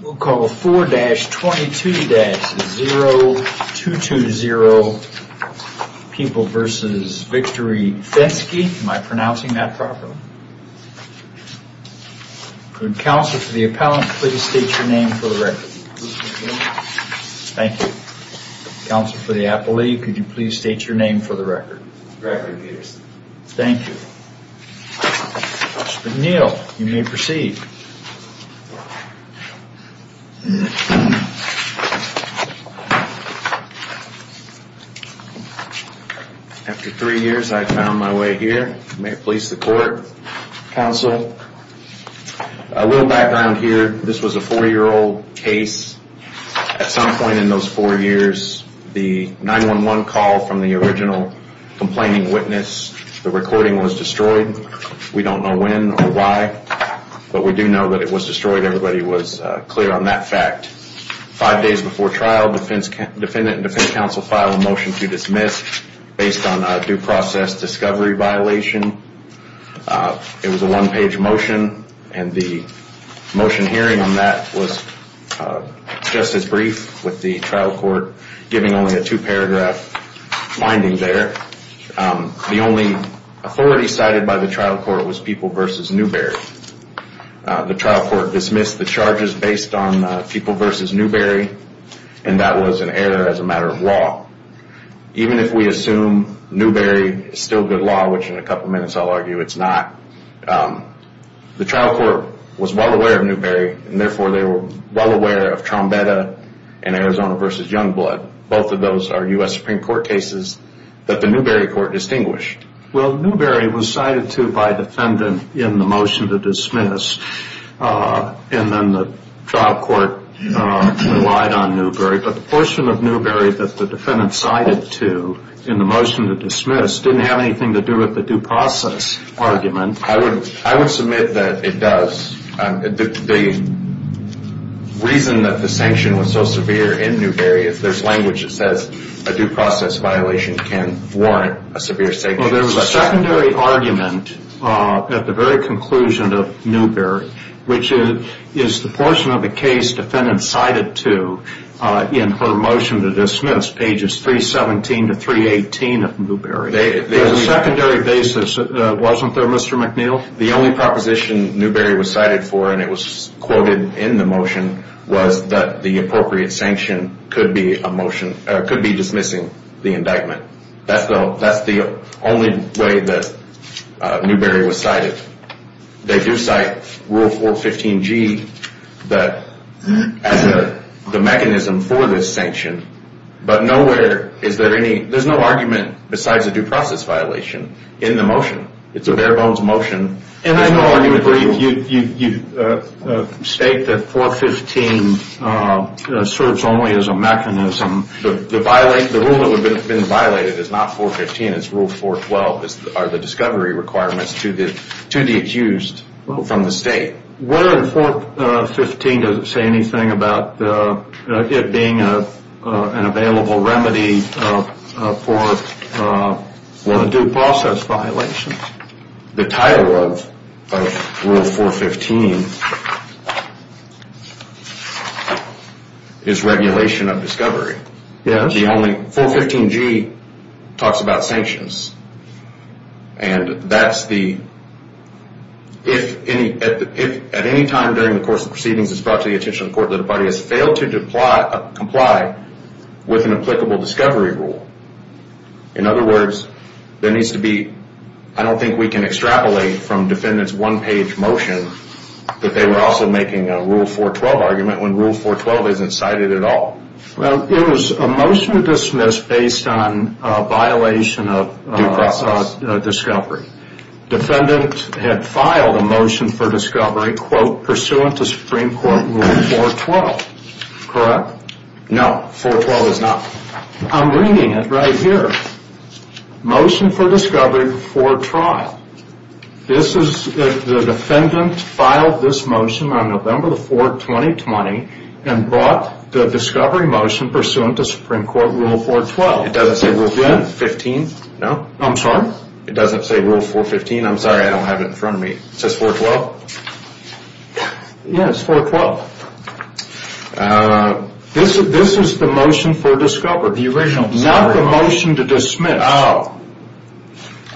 We'll call 4-22-0220 People v. Victory Fenske Council for the Appellant please state your name for the record. Thank you. Council for the Appellate could you please state your name for the record. Gregory Peterson. Thank you. Mr. McNeil you may proceed. After three years I have found my way here. May it please the court, Council. A little background here. This was a four year old case. At some point in those four years the 911 call from the original complaining witness, the recording was destroyed. We don't know when or why. But we do know that it was destroyed. Everybody was clear on that fact. Five days before trial the defendant and defense counsel filed a motion to dismiss based on a due process discovery violation. It was a one page motion. And the motion hearing on that was just as brief with the trial court giving only a two paragraph finding there. The only authority cited by the trial court was People v. Newberry. The trial court dismissed the charges based on People v. Newberry and that was an error as a matter of law. Even if we assume Newberry is still good law, which in a couple minutes I'll argue it's not, the trial court was well aware of Newberry and therefore they were well aware of Trombetta and Arizona v. Youngblood. Both of those are U.S. Supreme Court cases that the Newberry court distinguished. Well, Newberry was cited to by defendant in the motion to dismiss and then the trial court relied on Newberry. But the portion of Newberry that the defendant cited to in the motion to dismiss didn't have anything to do with the due process argument. I would submit that it does. The reason that the sanction was so severe in Newberry, if there's language that says a due process violation can warrant a severe sanction. Well, there was a secondary argument at the very conclusion of Newberry, which is the portion of the case defendant cited to in her motion to dismiss, pages 317 to 318 of Newberry. There was a secondary basis, wasn't there, Mr. McNeil? The only proposition Newberry was cited for and it was quoted in the motion was that the appropriate sanction could be a motion, could be dismissing the indictment. That's the only way that Newberry was cited. They do cite Rule 415G as the mechanism for this sanction, but nowhere is there any, there's no argument besides a due process violation in the motion. It's a bare bones motion. And I know you state that 415 serves only as a mechanism. The rule that would have been violated is not 415, it's Rule 412, are the discovery requirements to the accused from the state. Where in 415 does it say anything about it being an available remedy for a due process violation? The title of Rule 415 is regulation of discovery. Yes. The only, 415G talks about sanctions and that's the, if at any time during the course of proceedings it's brought to the attention of the court that a body has failed to comply with an applicable discovery rule. In other words, there needs to be, I don't think we can extrapolate from defendant's one page motion that they were also making a Rule 412 argument when Rule 412 isn't cited at all. Well, it was a motion to dismiss based on a violation of discovery. Defendant had filed a motion for discovery, quote, pursuant to Supreme Court Rule 412. Correct? No, 412 is not. I'm reading it right here. Motion for discovery before trial. This is, the defendant filed this motion on November the 4th, 2020, and brought the discovery motion pursuant to Supreme Court Rule 412. It doesn't say Rule 15. No. I'm sorry? It doesn't say Rule 415. I'm sorry, I don't have it in front of me. It says 412? Yes, 412. This is the motion for discovery. The original discovery motion. Not the motion to dismiss. Oh.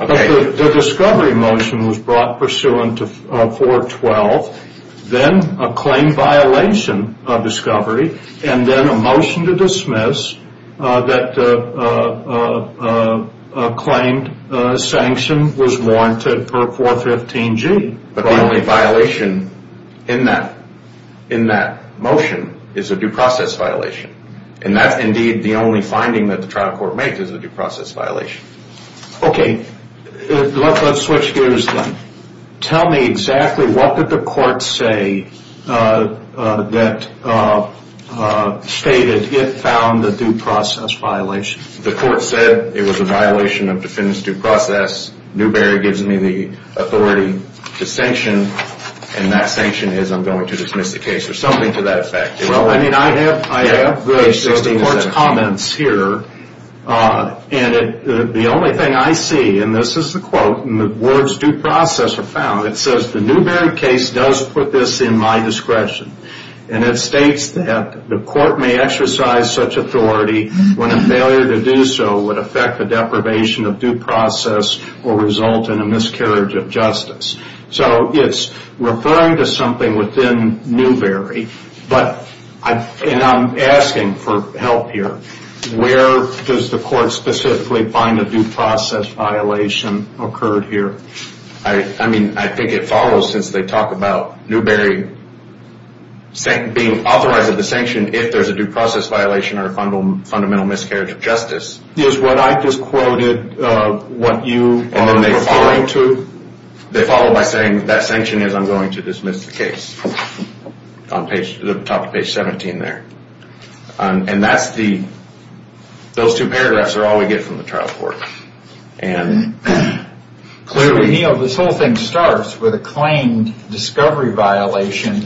Okay. The discovery motion was brought pursuant to 412, then a claim violation of discovery, and then a motion to dismiss that claimed sanction was warranted per 415G. But the only violation in that motion is a due process violation, and that's indeed the only finding that the trial court makes, is a due process violation. Okay. Let's switch gears then. Tell me exactly what did the court say that stated it found a due process violation? The court said it was a violation of defendant's due process. Newberry gives me the authority to sanction, and that sanction is I'm going to dismiss the case, or something to that effect. Well, I mean, I have the court's comments here, and the only thing I see, and this is the quote, and the words due process are found, it says the Newberry case does put this in my discretion, and it states that the court may exercise such authority when a failure to do so would affect the deprivation of due process or result in a miscarriage of justice. So it's referring to something within Newberry, and I'm asking for help here. Where does the court specifically find a due process violation occurred here? I mean, I think it follows since they talk about Newberry being authorized at the sanction if there's a due process violation or a fundamental miscarriage of justice. Is what I just quoted what you are referring to? They follow by saying that sanction is I'm going to dismiss the case. On the top of page 17 there. And that's the, those two paragraphs are all we get from the trial court. And clearly... So, Neil, this whole thing starts with a claimed discovery violation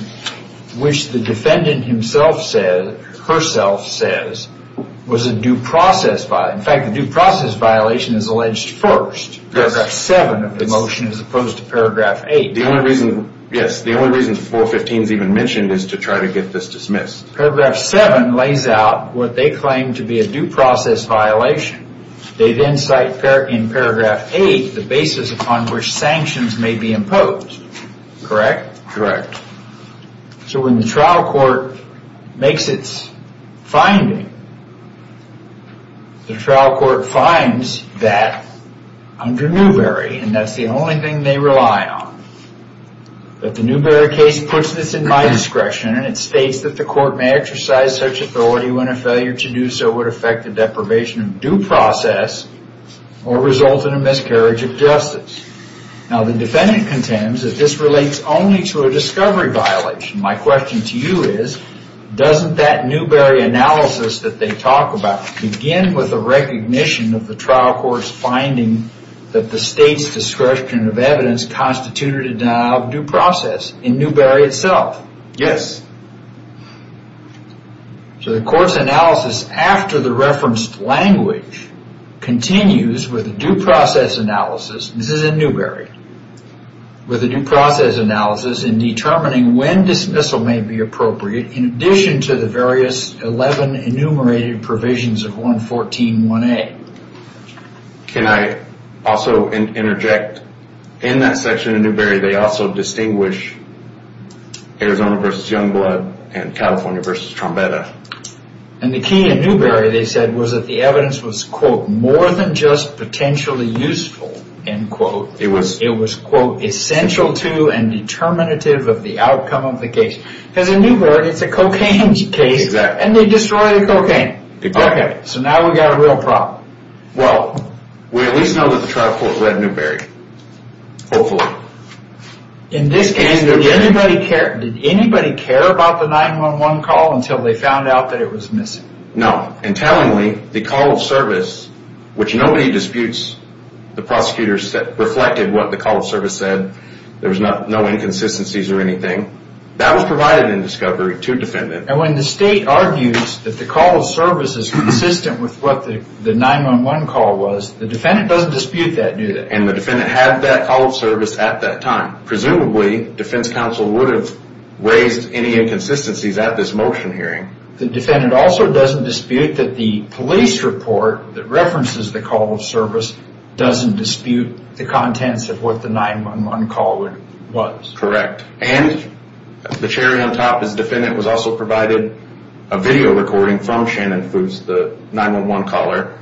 which the defendant himself says, herself says, was a due process violation. In fact, the due process violation is alleged first. Paragraph 7 of the motion as opposed to paragraph 8. The only reason, yes, the only reason 415 is even mentioned is to try to get this dismissed. Paragraph 7 lays out what they claim to be a due process violation. They then cite in paragraph 8 the basis upon which sanctions may be imposed. Correct? Correct. So when the trial court makes its finding, the trial court finds that under Newbery. And that's the only thing they rely on. But the Newbery case puts this in my discretion and it states that the court may exercise such authority when a failure to do so would affect the deprivation of due process or result in a miscarriage of justice. Now the defendant contends that this relates only to a discovery violation. My question to you is, doesn't that Newbery analysis that they talk about begin with the recognition of the trial court's finding that the state's discretion of evidence constituted a denial of due process in Newbery itself? Yes. So the court's analysis after the referenced language continues with a due process analysis. This is in Newbery. With a due process analysis in determining when dismissal may be appropriate in addition to the various 11 enumerated provisions of 114.1a. Can I also interject? In that section of Newbery, they also distinguish Arizona v. Youngblood and California v. Trombetta. And the key in Newbery, they said, was that the evidence was quote, more than just potentially useful, end quote. It was quote, essential to and determinative of the outcome of the case. Because in Newbery, it's a cocaine case. Exactly. And they destroy the cocaine. Exactly. Okay, so now we've got a real problem. Well, we at least know that the trial court read Newbery. Hopefully. In this case, did anybody care about the 911 call until they found out that it was missing? No. And tellingly, the call of service, which nobody disputes, the prosecutors reflected what the call of service said. There was no inconsistencies or anything. That was provided in discovery to defendant. And when the state argues that the call of service is consistent with what the 911 call was, the defendant doesn't dispute that, do they? And the defendant had that call of service at that time. Presumably, defense counsel would have raised any inconsistencies at this motion hearing. The defendant also doesn't dispute that the police report that references the call of service doesn't dispute the contents of what the 911 call was. Correct. And the cherry on top is the defendant was also provided a video recording from Shannon Foose, the 911 caller,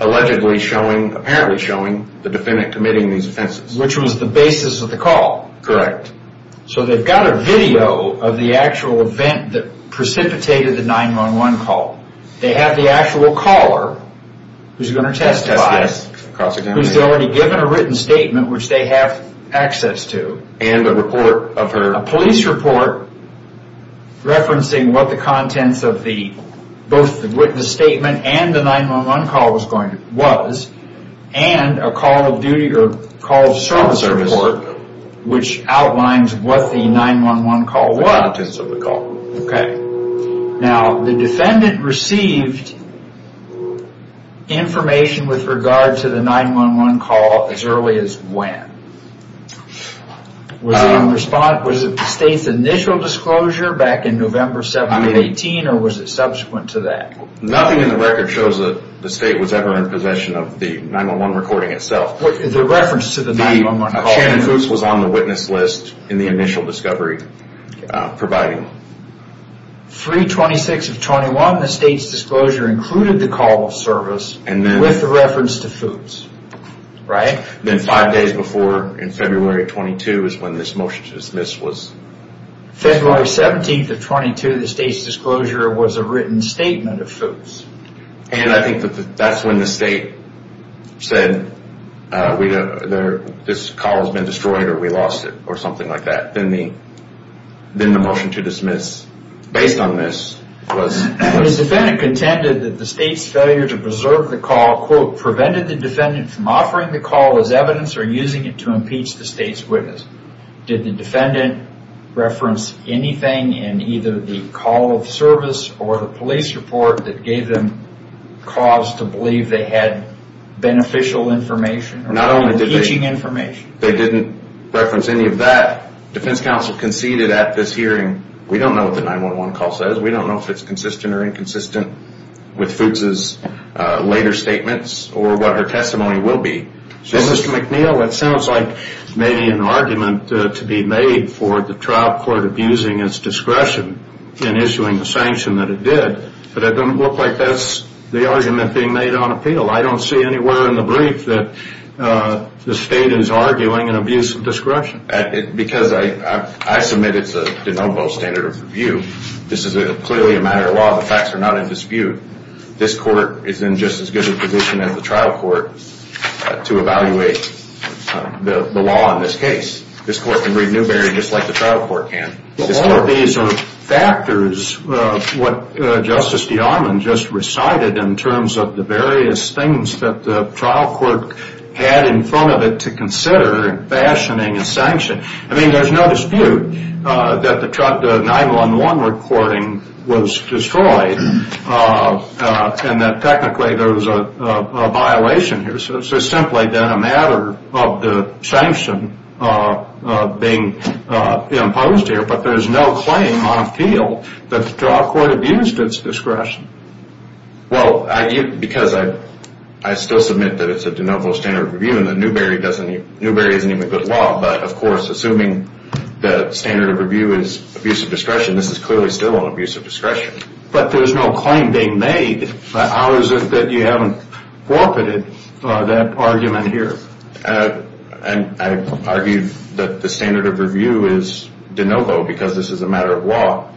allegedly showing, apparently showing, the defendant committing these offenses. Which was the basis of the call. Correct. So they've got a video of the actual event that precipitated the 911 call. They have the actual caller, who's going to testify, who's already given a written statement, which they have access to. And a report of her. A police report referencing what the contents of the, both the statement and the 911 call was, and a call of duty, or call of service report, which outlines what the 911 call was. The contents of the call. Okay. Now, the defendant received information with regard to the 911 call as early as when? Was it in response, was it the state's initial disclosure back in November 1718, or was it subsequent to that? Nothing in the record shows that the state was ever in possession of the 911 recording itself. The reference to the 911 call. Shannon Foose was on the witness list in the initial discovery, providing. 3-26-21, the state's disclosure included the call of service with the reference to Foose. Right. Then five days before, in February 22, is when this motion to dismiss was. February 17th of 22, the state's disclosure was a written statement of Foose. And I think that's when the state said, this call has been destroyed or we lost it, or something like that. Then the motion to dismiss, based on this, was. The defendant contended that the state's failure to preserve the call, quote, prevented the defendant from offering the call as evidence or using it to impeach the state's witness. Did the defendant reference anything in either the call of service or the police report that gave them cause to believe they had beneficial information or impeaching information? They didn't reference any of that. Defense counsel conceded at this hearing, we don't know what the 911 call says. We don't know if it's consistent or inconsistent with Foose's later statements or what her testimony will be. Mr. McNeil, it sounds like maybe an argument to be made for the trial court abusing its discretion in issuing the sanction that it did, but it doesn't look like that's the argument being made on appeal. I don't see anywhere in the brief that the state is arguing an abuse of discretion. Because I submit it's a de novo standard of review. This is clearly a matter of law. The facts are not in dispute. This court is in just as good a position as the trial court to evaluate the law in this case. This court can read Newberry just like the trial court can. But all of these are factors of what Justice D'Almond just recited in terms of the various things that the trial court had in front of it to consider in fashioning a sanction. I mean, there's no dispute that the 911 recording was destroyed and that technically there was a violation here. So it's simply been a matter of the sanction being imposed here. But there's no claim on appeal that the trial court abused its discretion. Well, because I still submit that it's a de novo standard of review and that Newberry isn't even good law. But, of course, assuming the standard of review is abuse of discretion, this is clearly still an abuse of discretion. But there's no claim being made. How is it that you haven't co-opted that argument here? I argue that the standard of review is de novo because this is a matter of law.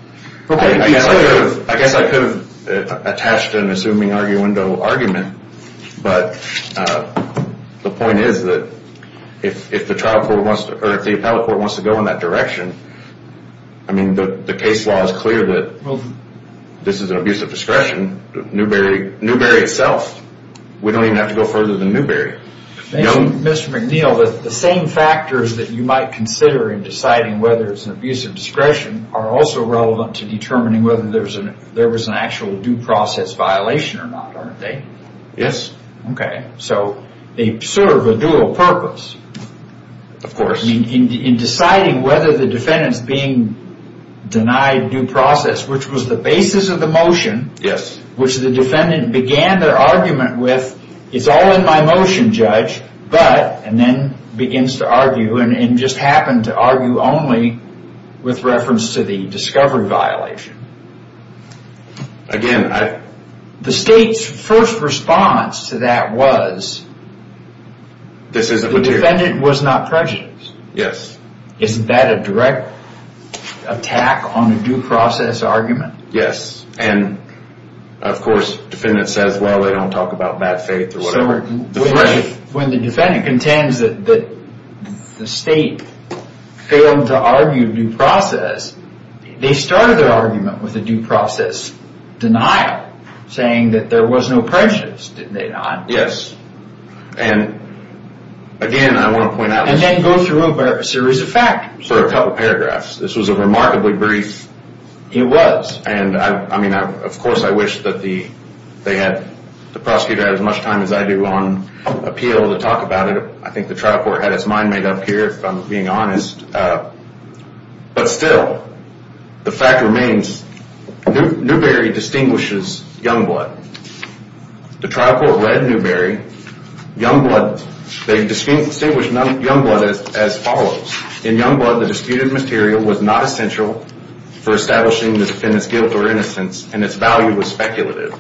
I guess I could have attached an assuming arguendo argument. But the point is that if the appellate court wants to go in that direction, I mean, the case law is clear that this is an abuse of discretion. Newberry itself, we don't even have to go further than Newberry. Mr. McNeil, the same factors that you might consider in deciding whether it's an abuse of discretion are also relevant to determining whether there was an actual due process violation or not, aren't they? Yes. Okay, so they serve a dual purpose. Of course. In deciding whether the defendant's being denied due process, which was the basis of the motion, which the defendant began their argument with, It's all in my motion, judge. But, and then begins to argue and just happened to argue only with reference to the discovery violation. Again, I... The state's first response to that was... This isn't material. The defendant was not prejudiced. Yes. Isn't that a direct attack on a due process argument? Yes. And, of course, defendant says, well, they don't talk about bad faith or whatever. When the defendant contends that the state failed to argue due process, they started their argument with a due process denial, saying that there was no prejudice, didn't they, Don? Yes. And, again, I want to point out... And then go through a series of facts. For a couple paragraphs. This was a remarkably brief... It was. And, I mean, of course, I wish that they had... The prosecutor had as much time as I do on appeal to talk about it. I think the trial court had its mind made up here, if I'm being honest. But, still, the fact remains. Newbery distinguishes Youngblood. The trial court read Newbery. Youngblood... They distinguished Youngblood as follows. In Youngblood, the disputed material was not essential for establishing the defendant's guilt or innocence, and its value was speculative.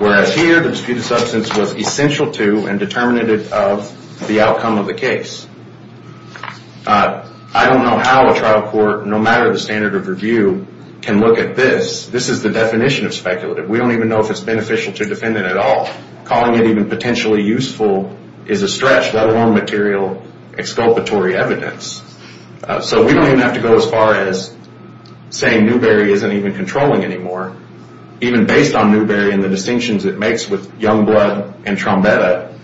Whereas here, the disputed substance was essential to and determinative of the outcome of the case. I don't know how a trial court, no matter the standard of review, can look at this. This is the definition of speculative. We don't even know if it's beneficial to a defendant at all. Calling it even potentially useful is a stretch, let alone material exculpatory evidence. So we don't even have to go as far as saying Newbery isn't even controlling anymore. Even based on Newbery and the distinctions it makes with Youngblood and Trombetta,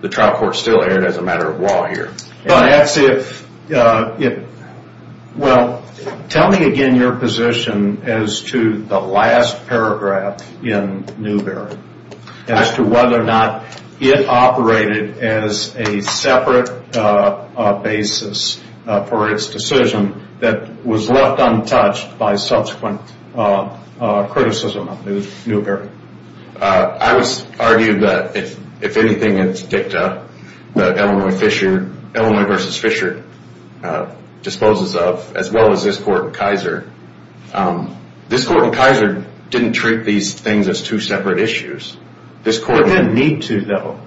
the trial court still erred as a matter of law here. Well, tell me again your position as to the last paragraph in Newbery, as to whether or not it operated as a separate basis for its decision that was left untouched by subsequent criticism of Newbery. I would argue that, if anything, it's dicta that Illinois v. Fisher disposes of, as well as this court and Kaiser. This court and Kaiser didn't treat these things as two separate issues. They didn't need to, though.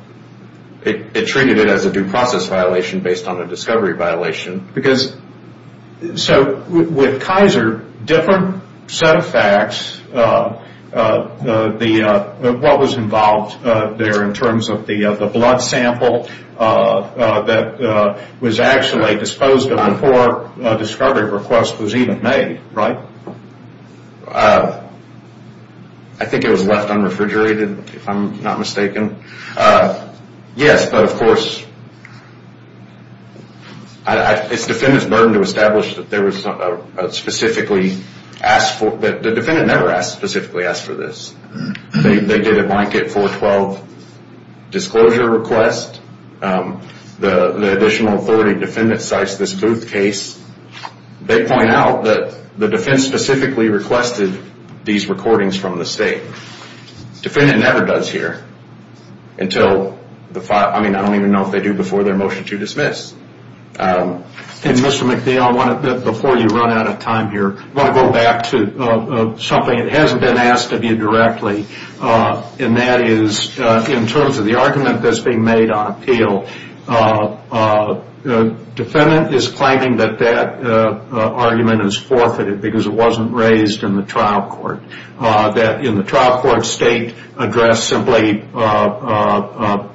It treated it as a due process violation based on a discovery violation. So with Kaiser, different set of facts, what was involved there in terms of the blood sample that was actually disposed of before a discovery request was even made, right? I think it was left unrefrigerated, if I'm not mistaken. Yes, but of course, it's defendant's burden to establish that there was a specifically asked for, but the defendant never specifically asked for this. They did a blanket 412 disclosure request. The additional authority defendant cites this Booth case. They point out that the defense specifically requested these recordings from the state. Defendant never does here. I mean, I don't even know if they do before their motion to dismiss. Mr. McNeil, before you run out of time here, I want to go back to something that hasn't been asked of you directly, and that is, in terms of the argument that's being made on appeal, defendant is claiming that that argument is forfeited because it wasn't raised in the trial court. That in the trial court, state addressed simply lack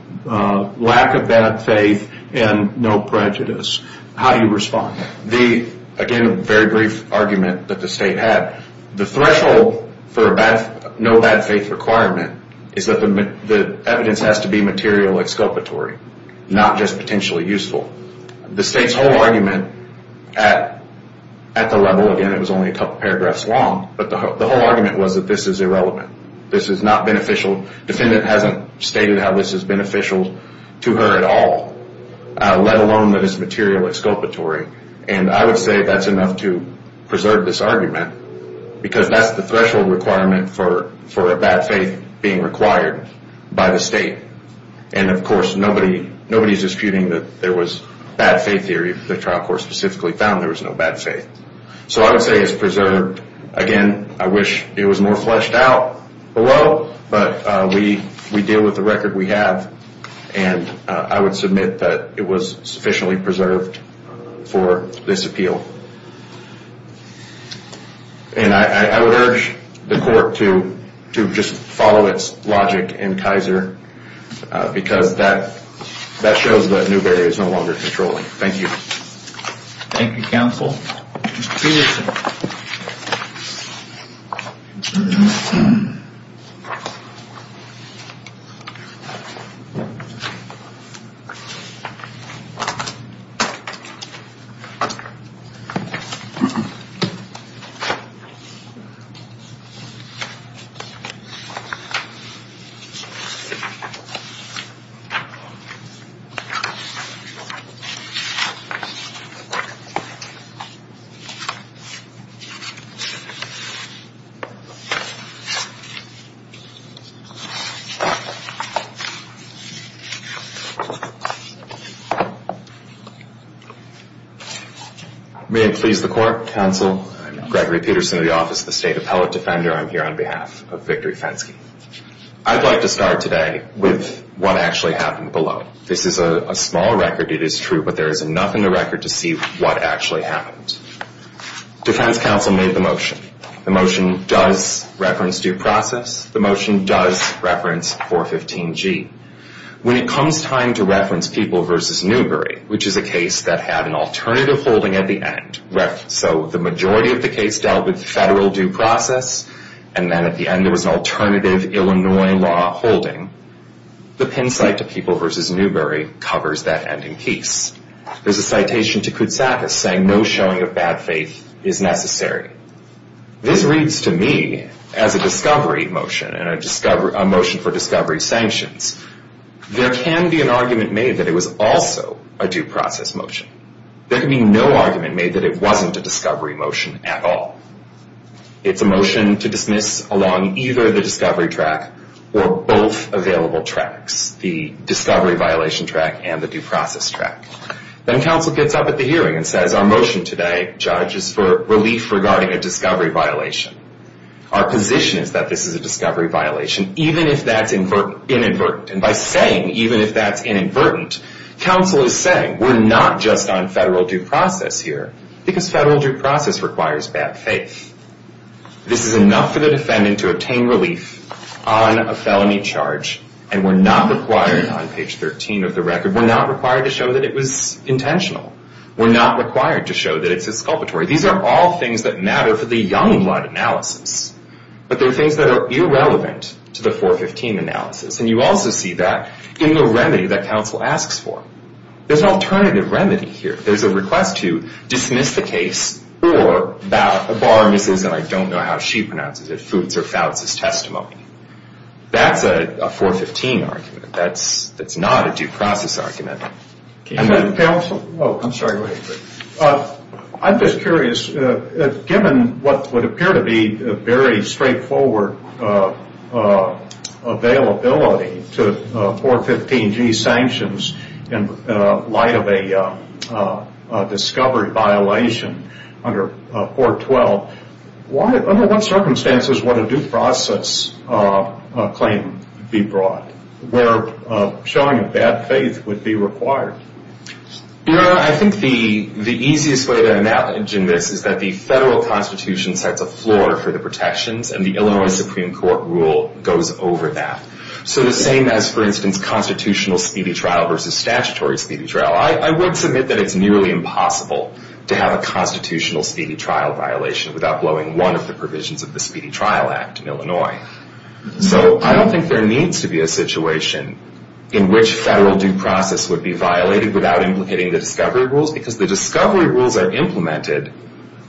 of bad faith and no prejudice. How do you respond? Again, a very brief argument that the state had. The threshold for a no bad faith requirement is that the evidence has to be material exculpatory, not just potentially useful. The state's whole argument at the level, again, it was only a couple paragraphs long, but the whole argument was that this is irrelevant. This is not beneficial. Defendant hasn't stated how this is beneficial to her at all, let alone that it's material exculpatory. And I would say that's enough to preserve this argument because that's the threshold requirement for a bad faith being required by the state. And, of course, nobody's disputing that there was bad faith theory. The trial court specifically found there was no bad faith. So I would say it's preserved. Again, I wish it was more fleshed out below, but we deal with the record we have, and I would submit that it was sufficiently preserved for this appeal. And I would urge the court to just follow its logic in Kaiser because that shows that Newberry is no longer controlling. Thank you. Thank you, counsel. Thank you. May it please the court, counsel. I'm Gregory Peterson of the Office of the State Appellate Defender. I'm here on behalf of Victory Fenske. I'd like to start today with what actually happened below. This is a small record. It is true, but there is enough in the record to see what actually happened. Defense counsel made the motion. The motion does reference due process. The motion does reference 415G. When it comes time to reference People v. Newberry, which is a case that had an alternative holding at the end, so the majority of the case dealt with federal due process, and then at the end there was an alternative Illinois law holding, the pin site to People v. Newberry covers that ending piece. There's a citation to Koutsakis saying no showing of bad faith is necessary. This reads to me as a discovery motion and a motion for discovery sanctions. There can be an argument made that it was also a due process motion. There can be no argument made that it wasn't a discovery motion at all. It's a motion to dismiss along either the discovery track or both available tracks, the discovery violation track and the due process track. Then counsel gets up at the hearing and says our motion today, judge, is for relief regarding a discovery violation. Our position is that this is a discovery violation even if that's inadvertent. And by saying even if that's inadvertent, counsel is saying we're not just on federal due process here because federal due process requires bad faith. This is enough for the defendant to obtain relief on a felony charge and we're not required on page 13 of the record, we're not required to show that it was intentional. We're not required to show that it's exculpatory. These are all things that matter for the young blood analysis, but they're things that are irrelevant to the 415 analysis. And you also see that in the remedy that counsel asks for. There's an alternative remedy here. There's a request to dismiss the case or the bar misses and I don't know how she pronounces it, foots or fouts his testimony. That's a 415 argument. That's not a due process argument. And then counsel, oh, I'm sorry, go ahead. I'm just curious. Given what would appear to be a very straightforward availability to 415G sanctions in light of a discovery violation under 412, under what circumstances would a due process claim be brought where showing bad faith would be required? I think the easiest way to imagine this is that the federal constitution sets a floor for the protections and the Illinois Supreme Court rule goes over that. So the same as, for instance, constitutional speedy trial versus statutory speedy trial. I would submit that it's nearly impossible to have a constitutional speedy trial violation without blowing one of the provisions of the Speedy Trial Act in Illinois. So I don't think there needs to be a situation in which federal due process would be violated without implicating the discovery rules because the discovery rules are implemented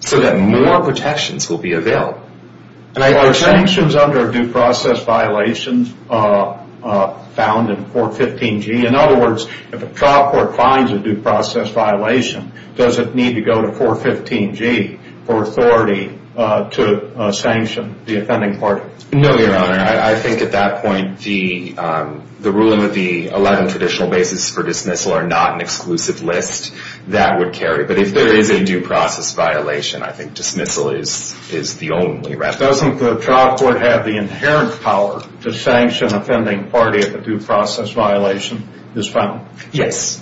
so that more protections will be availed. Are sanctions under due process violations found in 415G? In other words, if a trial court finds a due process violation, does it need to go to 415G for authority to sanction the offending party? No, Your Honor. I think at that point the ruling of the 11 traditional basis for dismissal are not an exclusive list that would carry. But if there is a due process violation, I think dismissal is the only route. Doesn't the trial court have the inherent power to sanction offending party if a due process violation is found? Yes.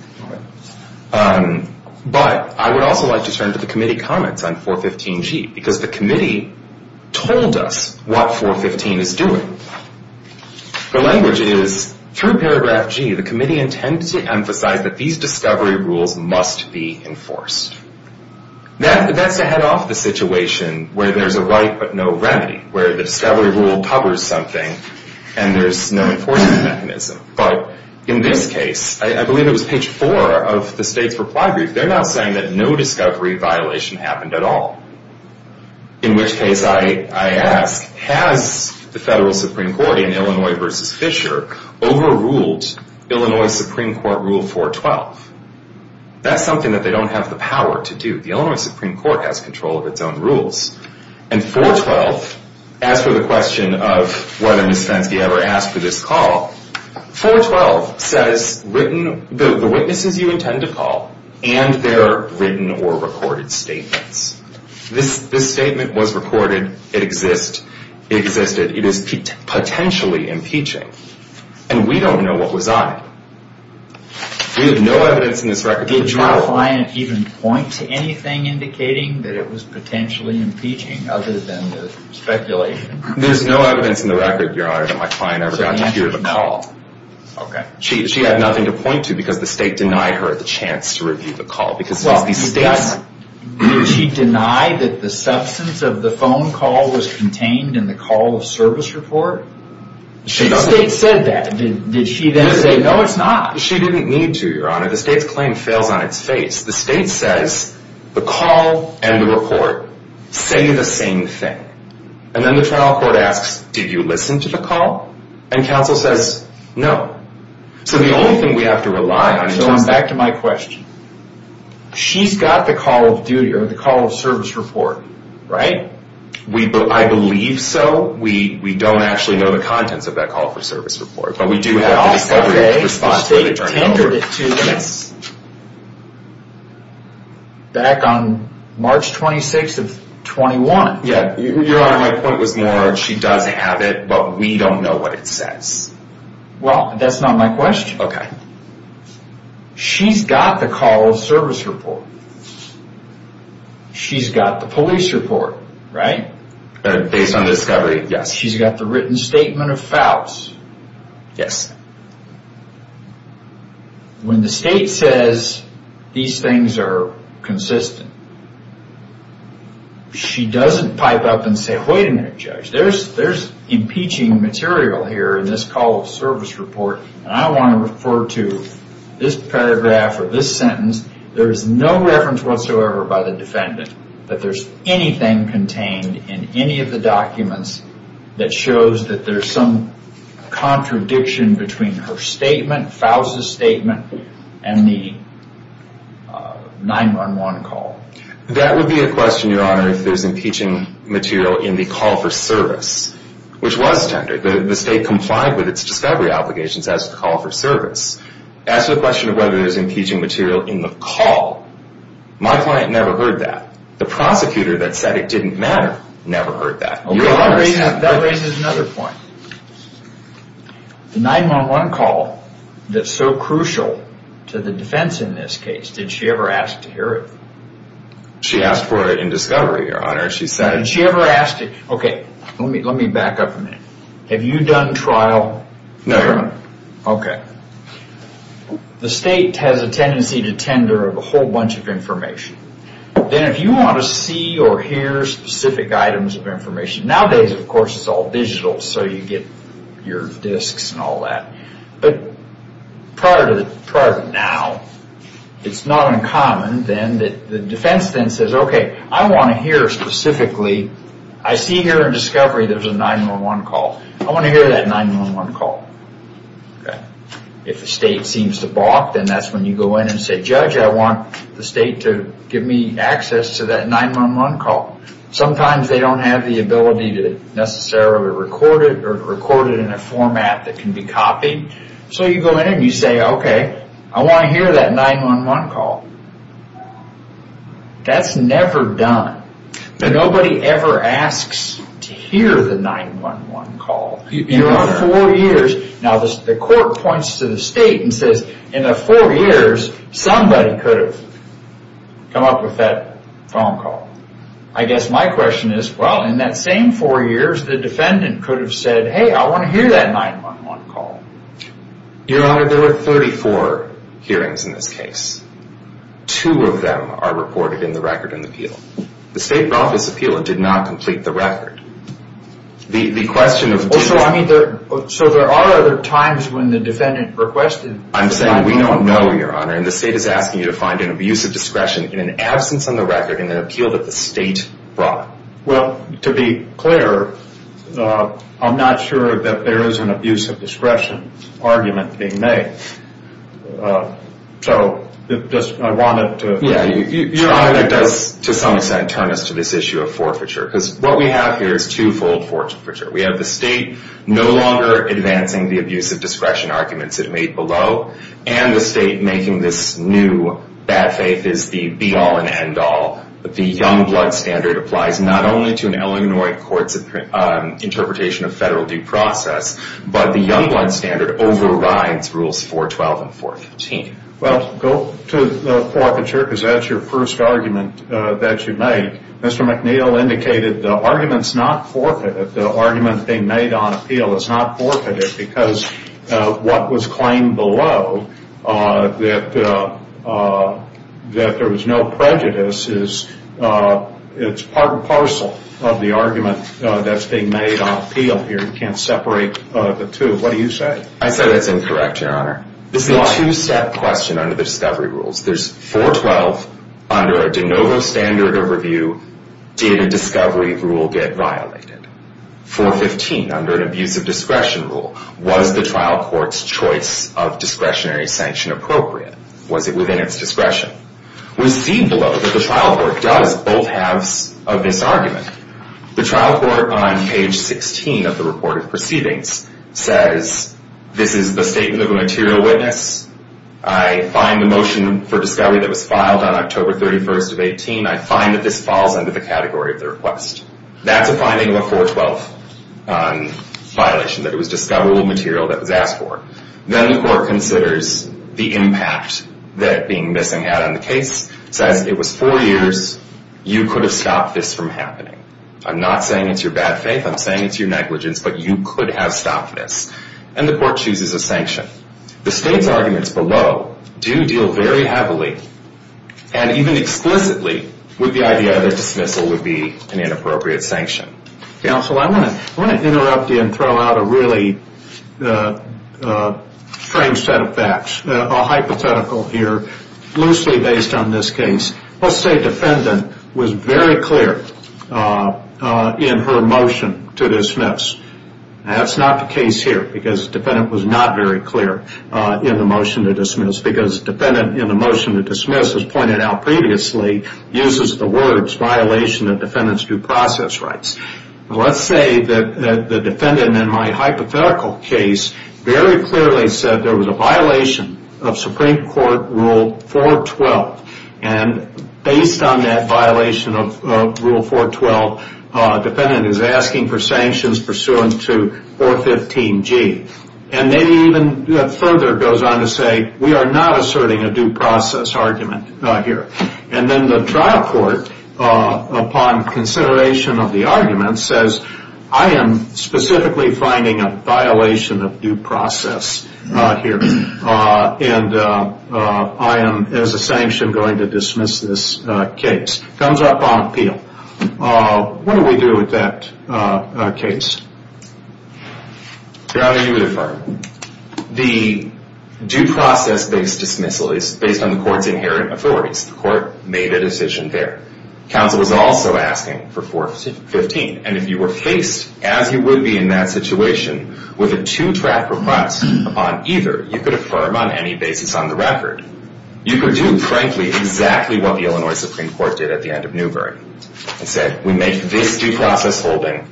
But I would also like to turn to the committee comments on 415G because the committee told us what 415 is doing. The language is, through paragraph G, the committee intends to emphasize that these discovery rules must be enforced. That's to head off the situation where there's a right but no remedy, where the discovery rule covers something and there's no enforcement mechanism. But in this case, I believe it was page 4 of the state's reply brief, they're not saying that no discovery violation happened at all, in which case I ask, has the federal Supreme Court in Illinois v. Fisher overruled Illinois Supreme Court Rule 412? That's something that they don't have the power to do. The Illinois Supreme Court has control of its own rules. And 412, as for the question of whether Ms. Fenske ever asked for this call, 412 says the witnesses you intend to call and their written or recorded statements. This statement was recorded, it existed, it is potentially impeaching. And we don't know what was on it. We have no evidence in this record. Did your client even point to anything indicating that it was potentially impeaching other than the speculation? There's no evidence in the record, Your Honor, that my client ever got to hear the call. Okay. She had nothing to point to because the state denied her the chance to review the call. Did she deny that the substance of the phone call was contained in the call of service report? The state said that. Did she then say, no, it's not? She didn't need to, Your Honor. The state's claim fails on its face. The state says the call and the report say the same thing. And then the trial court asks, did you listen to the call? And counsel says, no. So the only thing we have to rely on in terms of So back to my question. She's got the call of duty or the call of service report, right? I believe so. We don't actually know the contents of that call for service report, but we do have the discovery of the response where they turned it over. Back on March 26th of 21. Your Honor, my point was more, she does have it, but we don't know what it says. Well, that's not my question. Okay. She's got the call of service report. She's got the police report, right? Based on discovery, yes. She's got the written statement of fouls. Yes. When the state says these things are consistent, she doesn't pipe up and say, wait a minute, Judge, there's impeaching material here in this call of service report, and I want to refer to this paragraph or this sentence. There is no reference whatsoever by the defendant that there's anything contained in any of the documents that shows that there's some contradiction between her statement, Faus's statement, and the 911 call. That would be a question, Your Honor, if there's impeaching material in the call for service, which was tendered. The state complied with its discovery obligations as a call for service. As to the question of whether there's impeaching material in the call, my client never heard that. The prosecutor that said it didn't matter never heard that. Okay. That raises another point. The 911 call that's so crucial to the defense in this case, did she ever ask to hear it? She asked for it in discovery, Your Honor. Did she ever ask it? Okay. Let me back up a minute. Have you done trial? No, Your Honor. Okay. The state has a tendency to tender a whole bunch of information. Then if you want to see or hear specific items of information, nowadays, of course, it's all digital, so you get your disks and all that. But prior to now, it's not uncommon then that the defense then says, okay, I want to hear specifically, I see here in discovery there's a 911 call. I want to hear that 911 call. Okay. If the state seems to balk, then that's when you go in and say, judge, I want the state to give me access to that 911 call. Sometimes they don't have the ability to necessarily record it or record it in a format that can be copied. So you go in and you say, okay, I want to hear that 911 call. That's never done. Nobody ever asks to hear the 911 call. Now, the court points to the state and says, in the four years, somebody could have come up with that phone call. I guess my question is, well, in that same four years, the defendant could have said, hey, I want to hear that 911 call. Your Honor, there were 34 hearings in this case. Two of them are reported in the record in the appeal. The state office appeal did not complete the record. So there are other times when the defendant requested. I'm saying we don't know, Your Honor, and the state is asking you to find an abuse of discretion in an absence on the record in an appeal that the state brought. Well, to be clear, I'm not sure that there is an abuse of discretion argument being made. So I want it to be clear. Your Honor, that does, to some extent, turn us to this issue of forfeiture. Because what we have here is two-fold forfeiture. We have the state no longer advancing the abuse of discretion arguments it made below, and the state making this new bad faith is the be-all and end-all. The Youngblood standard applies not only to an Illinois court's interpretation of federal due process, but the Youngblood standard overrides Rules 412 and 415. Well, go to the forfeiture, because that's your first argument that you make. Mr. McNeil indicated the argument's not forfeited. The argument being made on appeal is not forfeited, because what was claimed below that there was no prejudice is part and parcel of the argument that's being made on appeal here. You can't separate the two. What do you say? I say that's incorrect, Your Honor. Why? This is a two-step question under the discovery rules. There's 412 under a de novo standard of review. Did a discovery rule get violated? 415 under an abuse of discretion rule. Was the trial court's choice of discretionary sanction appropriate? Was it within its discretion? We see below that the trial court does both halves of this argument. The trial court on page 16 of the report of proceedings says, this is the statement of a material witness. I find the motion for discovery that was filed on October 31st of 18. I find that this falls under the category of the request. That's a finding of a 412 violation, that it was discoverable material that was asked for. Then the court considers the impact that being missing had on the case, says it was four years. You could have stopped this from happening. I'm not saying it's your bad faith. I'm saying it's your negligence, but you could have stopped this. And the court chooses a sanction. The state's arguments below do deal very heavily and even explicitly with the idea that dismissal would be an inappropriate sanction. Counsel, I want to interrupt you and throw out a really strange set of facts, a hypothetical here loosely based on this case. Let's say a defendant was very clear in her motion to dismiss. That's not the case here because the defendant was not very clear in the motion to dismiss because the defendant in the motion to dismiss, as pointed out previously, uses the words violation of defendant's due process rights. Let's say that the defendant in my hypothetical case very clearly said there was a violation of Supreme Court Rule 412. And based on that violation of Rule 412, the defendant is asking for sanctions pursuant to 415G. And then even further goes on to say we are not asserting a due process argument here. And then the trial court, upon consideration of the argument, says I am specifically finding a violation of due process here. And I am, as a sanction, going to dismiss this case. It comes up on appeal. What do we do with that case? You're either going to affirm. The due process-based dismissal is based on the court's inherent authorities. The court made a decision there. Counsel was also asking for 415. And if you were faced, as you would be in that situation, with a two-track request on either, you could affirm on any basis on the record. You could do, frankly, exactly what the Illinois Supreme Court did at the end of Newbery and said we make this due process holding,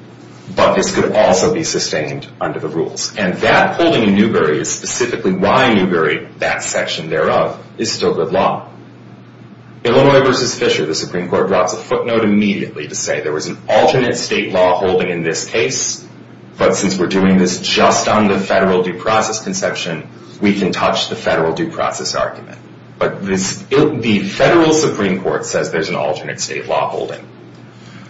but this could also be sustained under the rules. And that holding in Newbery is specifically why Newbery, that section thereof, is still good law. Illinois v. Fisher, the Supreme Court drops a footnote immediately to say there was an alternate state law holding in this case, but since we're doing this just on the federal due process conception, we can touch the federal due process argument. But the federal Supreme Court says there's an alternate state law holding.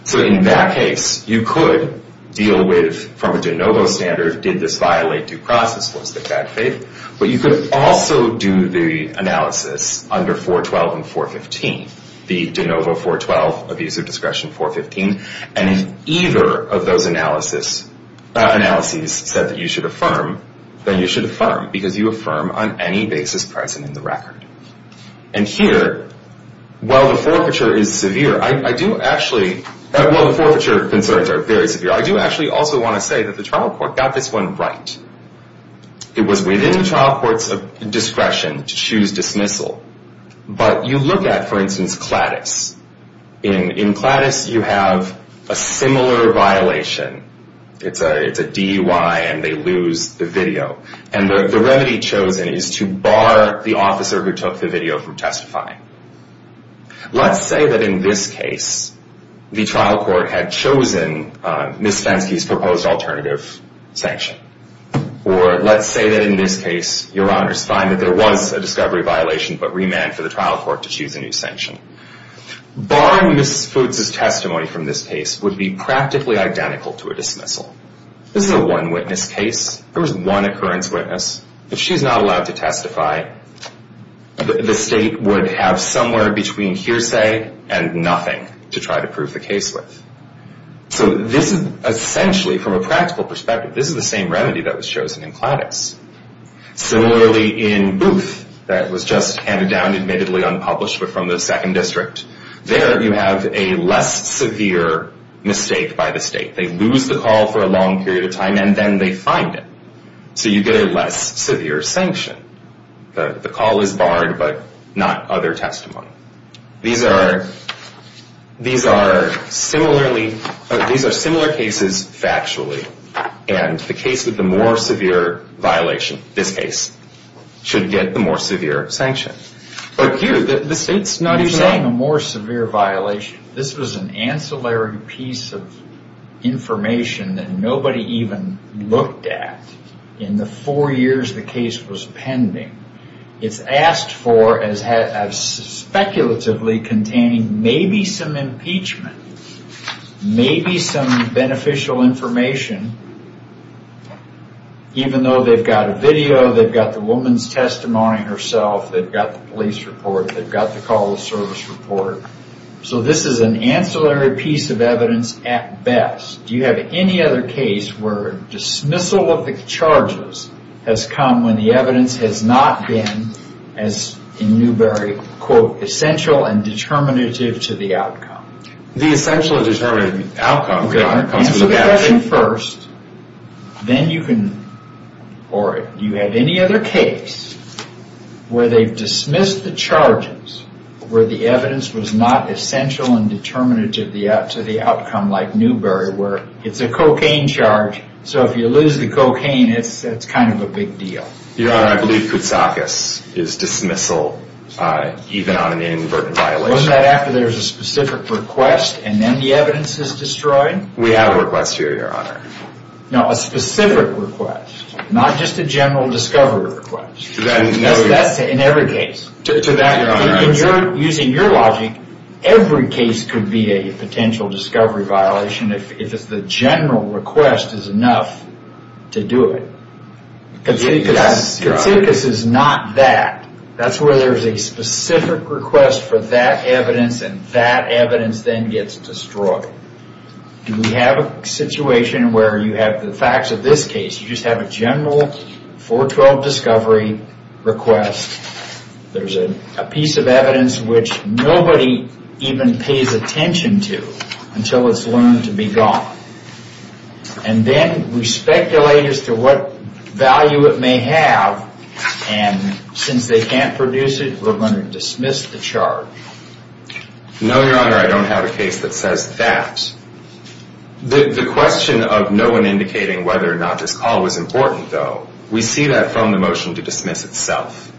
So in that case, you could deal with, from a de novo standard, did this violate due process? Was it bad faith? But you could also do the analysis under 412 and 415, the de novo 412, abuse of discretion 415. And if either of those analyses said that you should affirm, then you should affirm because you affirm on any basis present in the record. And here, while the forfeiture is severe, I do actually, well, the forfeiture concerns are very severe. I do actually also want to say that the trial court got this one right. It was within the trial court's discretion to choose dismissal. But you look at, for instance, Cladis. In Cladis, you have a similar violation. It's a DUI, and they lose the video. And the remedy chosen is to bar the officer who took the video from testifying. Let's say that, in this case, the trial court had chosen Ms. Fenske's proposed alternative sanction. Or let's say that, in this case, your honors find that there was a discovery violation, but remanded for the trial court to choose a new sanction. Barring Ms. Foots's testimony from this case would be practically identical to a dismissal. This is a one-witness case. There was one occurrence witness. If she's not allowed to testify, the state would have somewhere between hearsay and nothing to try to prove the case with. So this is essentially, from a practical perspective, this is the same remedy that was chosen in Cladis. Similarly, in Booth, that was just handed down, admittedly unpublished, but from the second district, there you have a less severe mistake by the state. They lose the call for a long period of time, and then they find it. So you get a less severe sanction. The call is barred, but not other testimony. These are similar cases factually, and the case with the more severe violation, this case, should get the more severe sanction. You're saying a more severe violation. This was an ancillary piece of information that nobody even looked at. In the four years the case was pending, it's asked for as speculatively containing maybe some impeachment, maybe some beneficial information, even though they've got a video, they've got the woman's testimony herself, they've got the police report, they've got the call to service report. So this is an ancillary piece of evidence at best. Do you have any other case where dismissal of the charges has come when the evidence has not been, as in Newberry, quote, essential and determinative to the outcome? The essential and determinative outcome. Answer the question first. Then you can, or do you have any other case where they've dismissed the charges where the evidence was not essential and determinative to the outcome, like Newberry, where it's a cocaine charge, so if you lose the cocaine, it's kind of a big deal. Your Honor, I believe Koutsakis is dismissal, even on an inadvertent violation. Wasn't that after there was a specific request and then the evidence is destroyed? We have a request here, Your Honor. No, a specific request. Not just a general discovery request. That's in every case. Using your logic, every case could be a potential discovery violation if the general request is enough to do it. Koutsakis is not that. That's where there's a specific request for that evidence and that evidence then gets destroyed. Do we have a situation where you have the facts of this case? You just have a general 412 discovery request. There's a piece of evidence which nobody even pays attention to until it's learned to be gone. And then we speculate as to what value it may have and since they can't produce it, we're going to dismiss the charge. No, Your Honor, I don't have a case that says that. The question of no one indicating whether or not this call was important, though, we see that from the motion to dismiss itself.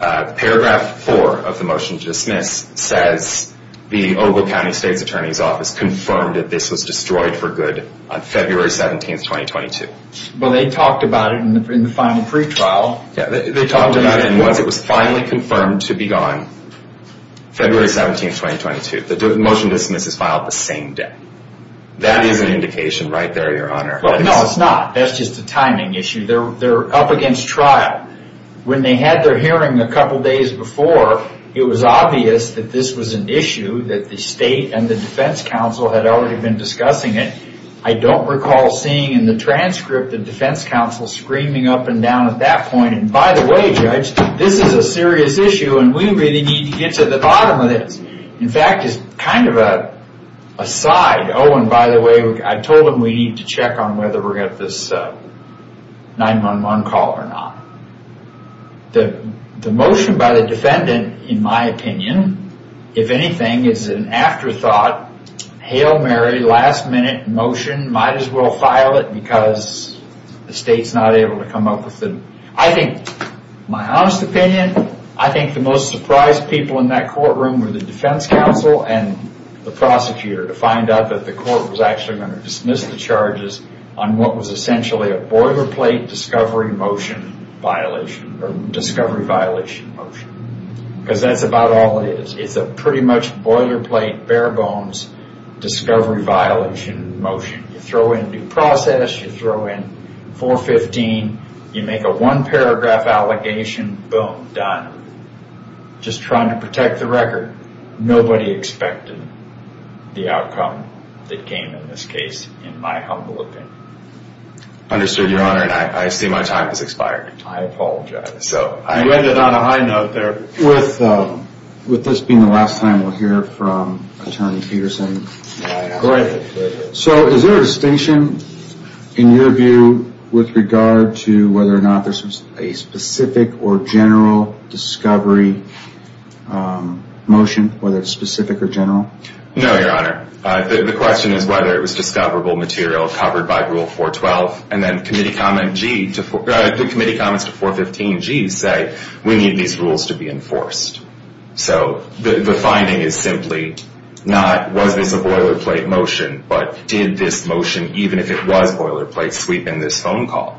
Paragraph 4 of the motion to dismiss says the Ogle County State's Attorney's Office confirmed that this was destroyed for good on February 17, 2022. Well, they talked about it in the final pretrial. They talked about it once it was finally confirmed to be gone. February 17, 2022. The motion to dismiss is filed the same day. That is an indication right there, Your Honor. No, it's not. That's just a timing issue. They're up against trial. When they had their hearing a couple days before, it was obvious that this was an issue that the state and the defense counsel had already been discussing it. I don't recall seeing in the transcript the defense counsel screaming up and down at that point. And by the way, Judge, this is a serious issue and we really need to get to the bottom of this. In fact, it's kind of a side. Oh, and by the way, I told them we need to check on whether we're going to have this 911 call or not. The motion by the defendant, in my opinion, if anything, is an afterthought. Hail Mary, last minute motion. Might as well file it because the state's not able to come up with it. I think, my honest opinion, I think the most surprised people in that courtroom were the defense counsel and the prosecutor to find out that the court was actually going to dismiss the charges on what was essentially a boilerplate discovery violation motion. Because that's about all it is. It's a pretty much boilerplate, bare bones discovery violation motion. You throw in due process, you throw in 415, you make a one paragraph allegation, boom, done. Just trying to protect the record. Nobody expected the outcome that came in this case, in my humble opinion. Understood, Your Honor, and I see my time has expired. I apologize. You ended on a high note there. With this being the last time we'll hear from Attorney Peterson, so is there a distinction, in your view, with regard to whether or not there's a specific or general discovery motion, whether it's specific or general? No, Your Honor. The question is whether it was discoverable material covered by Rule 412, and then the committee comments to 415G say we need these rules to be enforced. So the finding is simply not was this a boilerplate motion, but did this motion, even if it was boilerplate, sweep in this phone call?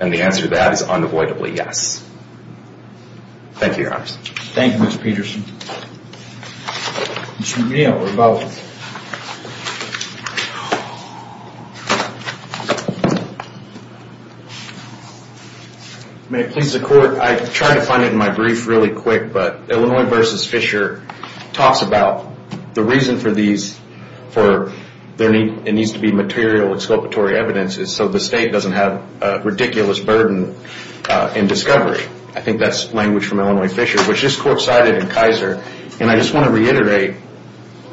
And the answer to that is unavoidably yes. Thank you, Your Honors. Thank you, Mr. Peterson. Mr. McNeil, we're both. May it please the Court, I tried to find it in my brief really quick, but Illinois v. Fisher talks about the reason for these, for there needs to be material exculpatory evidence so the state doesn't have a ridiculous burden in discovery. I think that's language from Illinois Fisher, which this Court cited in Kaiser. And I just want to reiterate,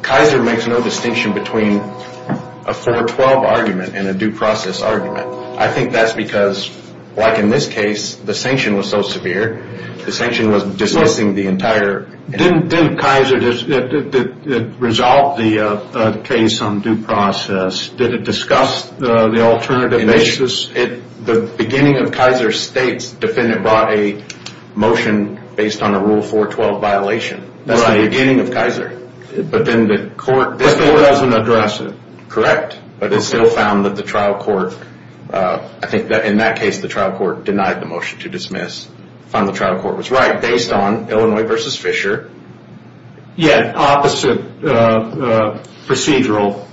Kaiser makes no distinction between a 412 argument and a due process argument. I think that's because, like in this case, the sanction was so severe, the sanction was dismissing the entire. Didn't Kaiser resolve the case on due process? Did it discuss the alternative basis? The beginning of Kaiser State's defendant brought a motion based on a Rule 412 violation. That's the beginning of Kaiser. But then the Court doesn't address it. Correct. But it still found that the trial court, I think in that case the trial court denied the motion to dismiss. Found the trial court was right based on Illinois v. Fisher. Yet opposite procedural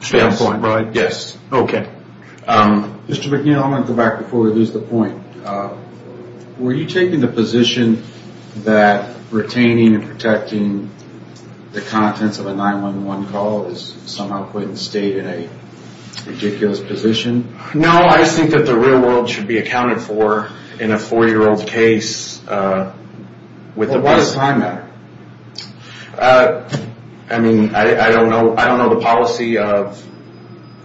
standpoint. Yes. Okay. Mr. McNeil, I'm going to go back before we lose the point. Were you taking the position that retaining and protecting the contents of a 911 call is somehow putting the state in a ridiculous position? No, I just think that the real world should be accounted for in a 4-year-old's case. What does time matter? I mean, I don't know the policy of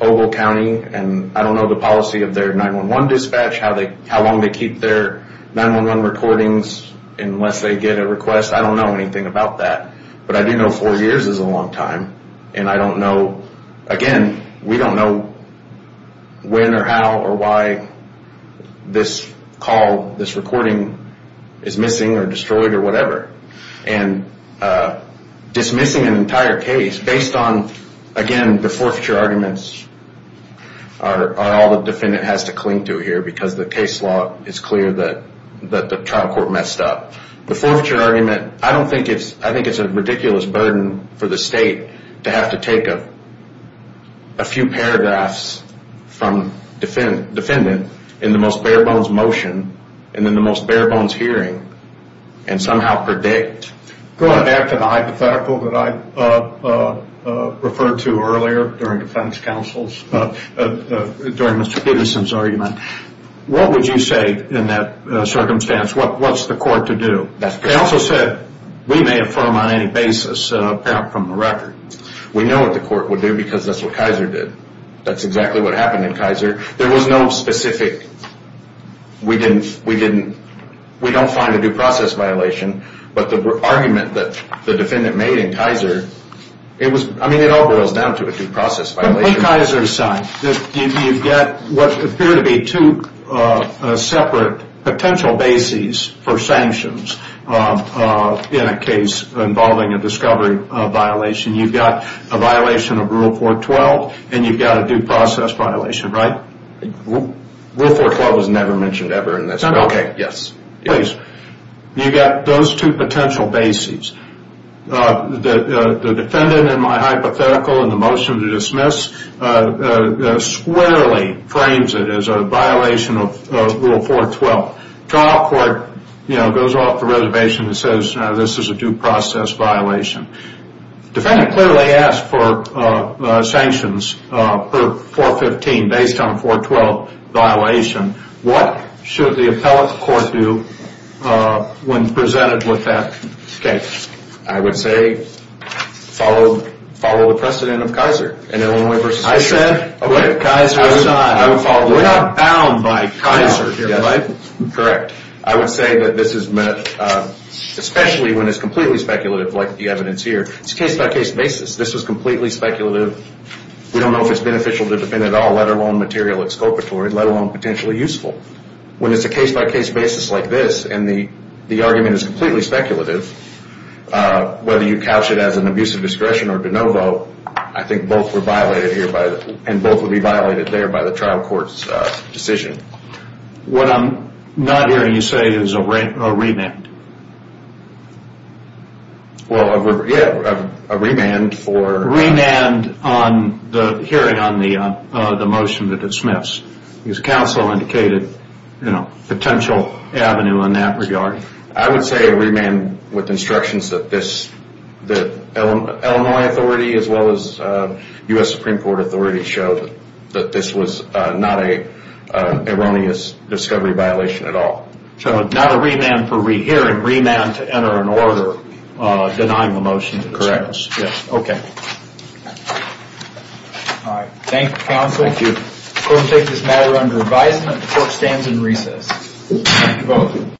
Ogle County and I don't know the policy of their 911 dispatch, how long they keep their 911 recordings unless they get a request. I don't know anything about that. But I do know four years is a long time. And I don't know, again, we don't know when or how or why this call, this recording is missing or destroyed or whatever. And dismissing an entire case based on, again, the forfeiture arguments are all the defendant has to cling to here because the case law is clear that the trial court messed up. The forfeiture argument, I don't think it's, I think it's a ridiculous burden for the state to have to take a few paragraphs from defendant in the most bare-bones motion and then the most bare-bones hearing and somehow predict. Going back to the hypothetical that I referred to earlier during defense counsel's, during Mr. Peterson's argument, what would you say in that circumstance? What's the court to do? They also said we may affirm on any basis from the record. We know what the court would do because that's what Kaiser did. That's exactly what happened in Kaiser. There was no specific, we don't find a due process violation, but the argument that the defendant made in Kaiser, I mean it all boils down to a due process violation. On Kaiser's side, you've got what appear to be two separate potential bases for sanctions in a case involving a discovery violation. You've got a violation of Rule 412 and you've got a due process violation, right? Rule 412 was never mentioned ever in this. Okay, yes. You've got those two potential bases. The defendant in my hypothetical in the motion to dismiss squarely frames it as a violation of Rule 412. Trial court goes off the reservation and says this is a due process violation. Defendant clearly asked for sanctions for 415 based on 412 violation. What should the appellate court do when presented with that case? I would say follow the precedent of Kaiser in Illinois versus here. I said Kaiser outside. We're not bound by Kaiser here, right? Correct. I would say that this is met, especially when it's completely speculative like the evidence here. It's a case-by-case basis. This is completely speculative. We don't know if it's beneficial to the defendant at all, let alone material exculpatory, let alone potentially useful. When it's a case-by-case basis like this and the argument is completely speculative, whether you couch it as an abuse of discretion or de novo, I think both were violated here and both would be violated there by the trial court's decision. What I'm not hearing you say is a remand. Well, yeah, a remand for... Remand on the hearing on the motion that was dismissed. His counsel indicated potential avenue in that regard. I would say a remand with instructions that Illinois authority as well as U.S. Supreme Court authority showed that this was not an erroneous discovery violation at all. Not a remand for rehearing, remand to enter an order denying the motion. Correct. Okay. Thank you, counsel. Thank you. We'll take this matter under advisement. The court stands in recess. Time to vote.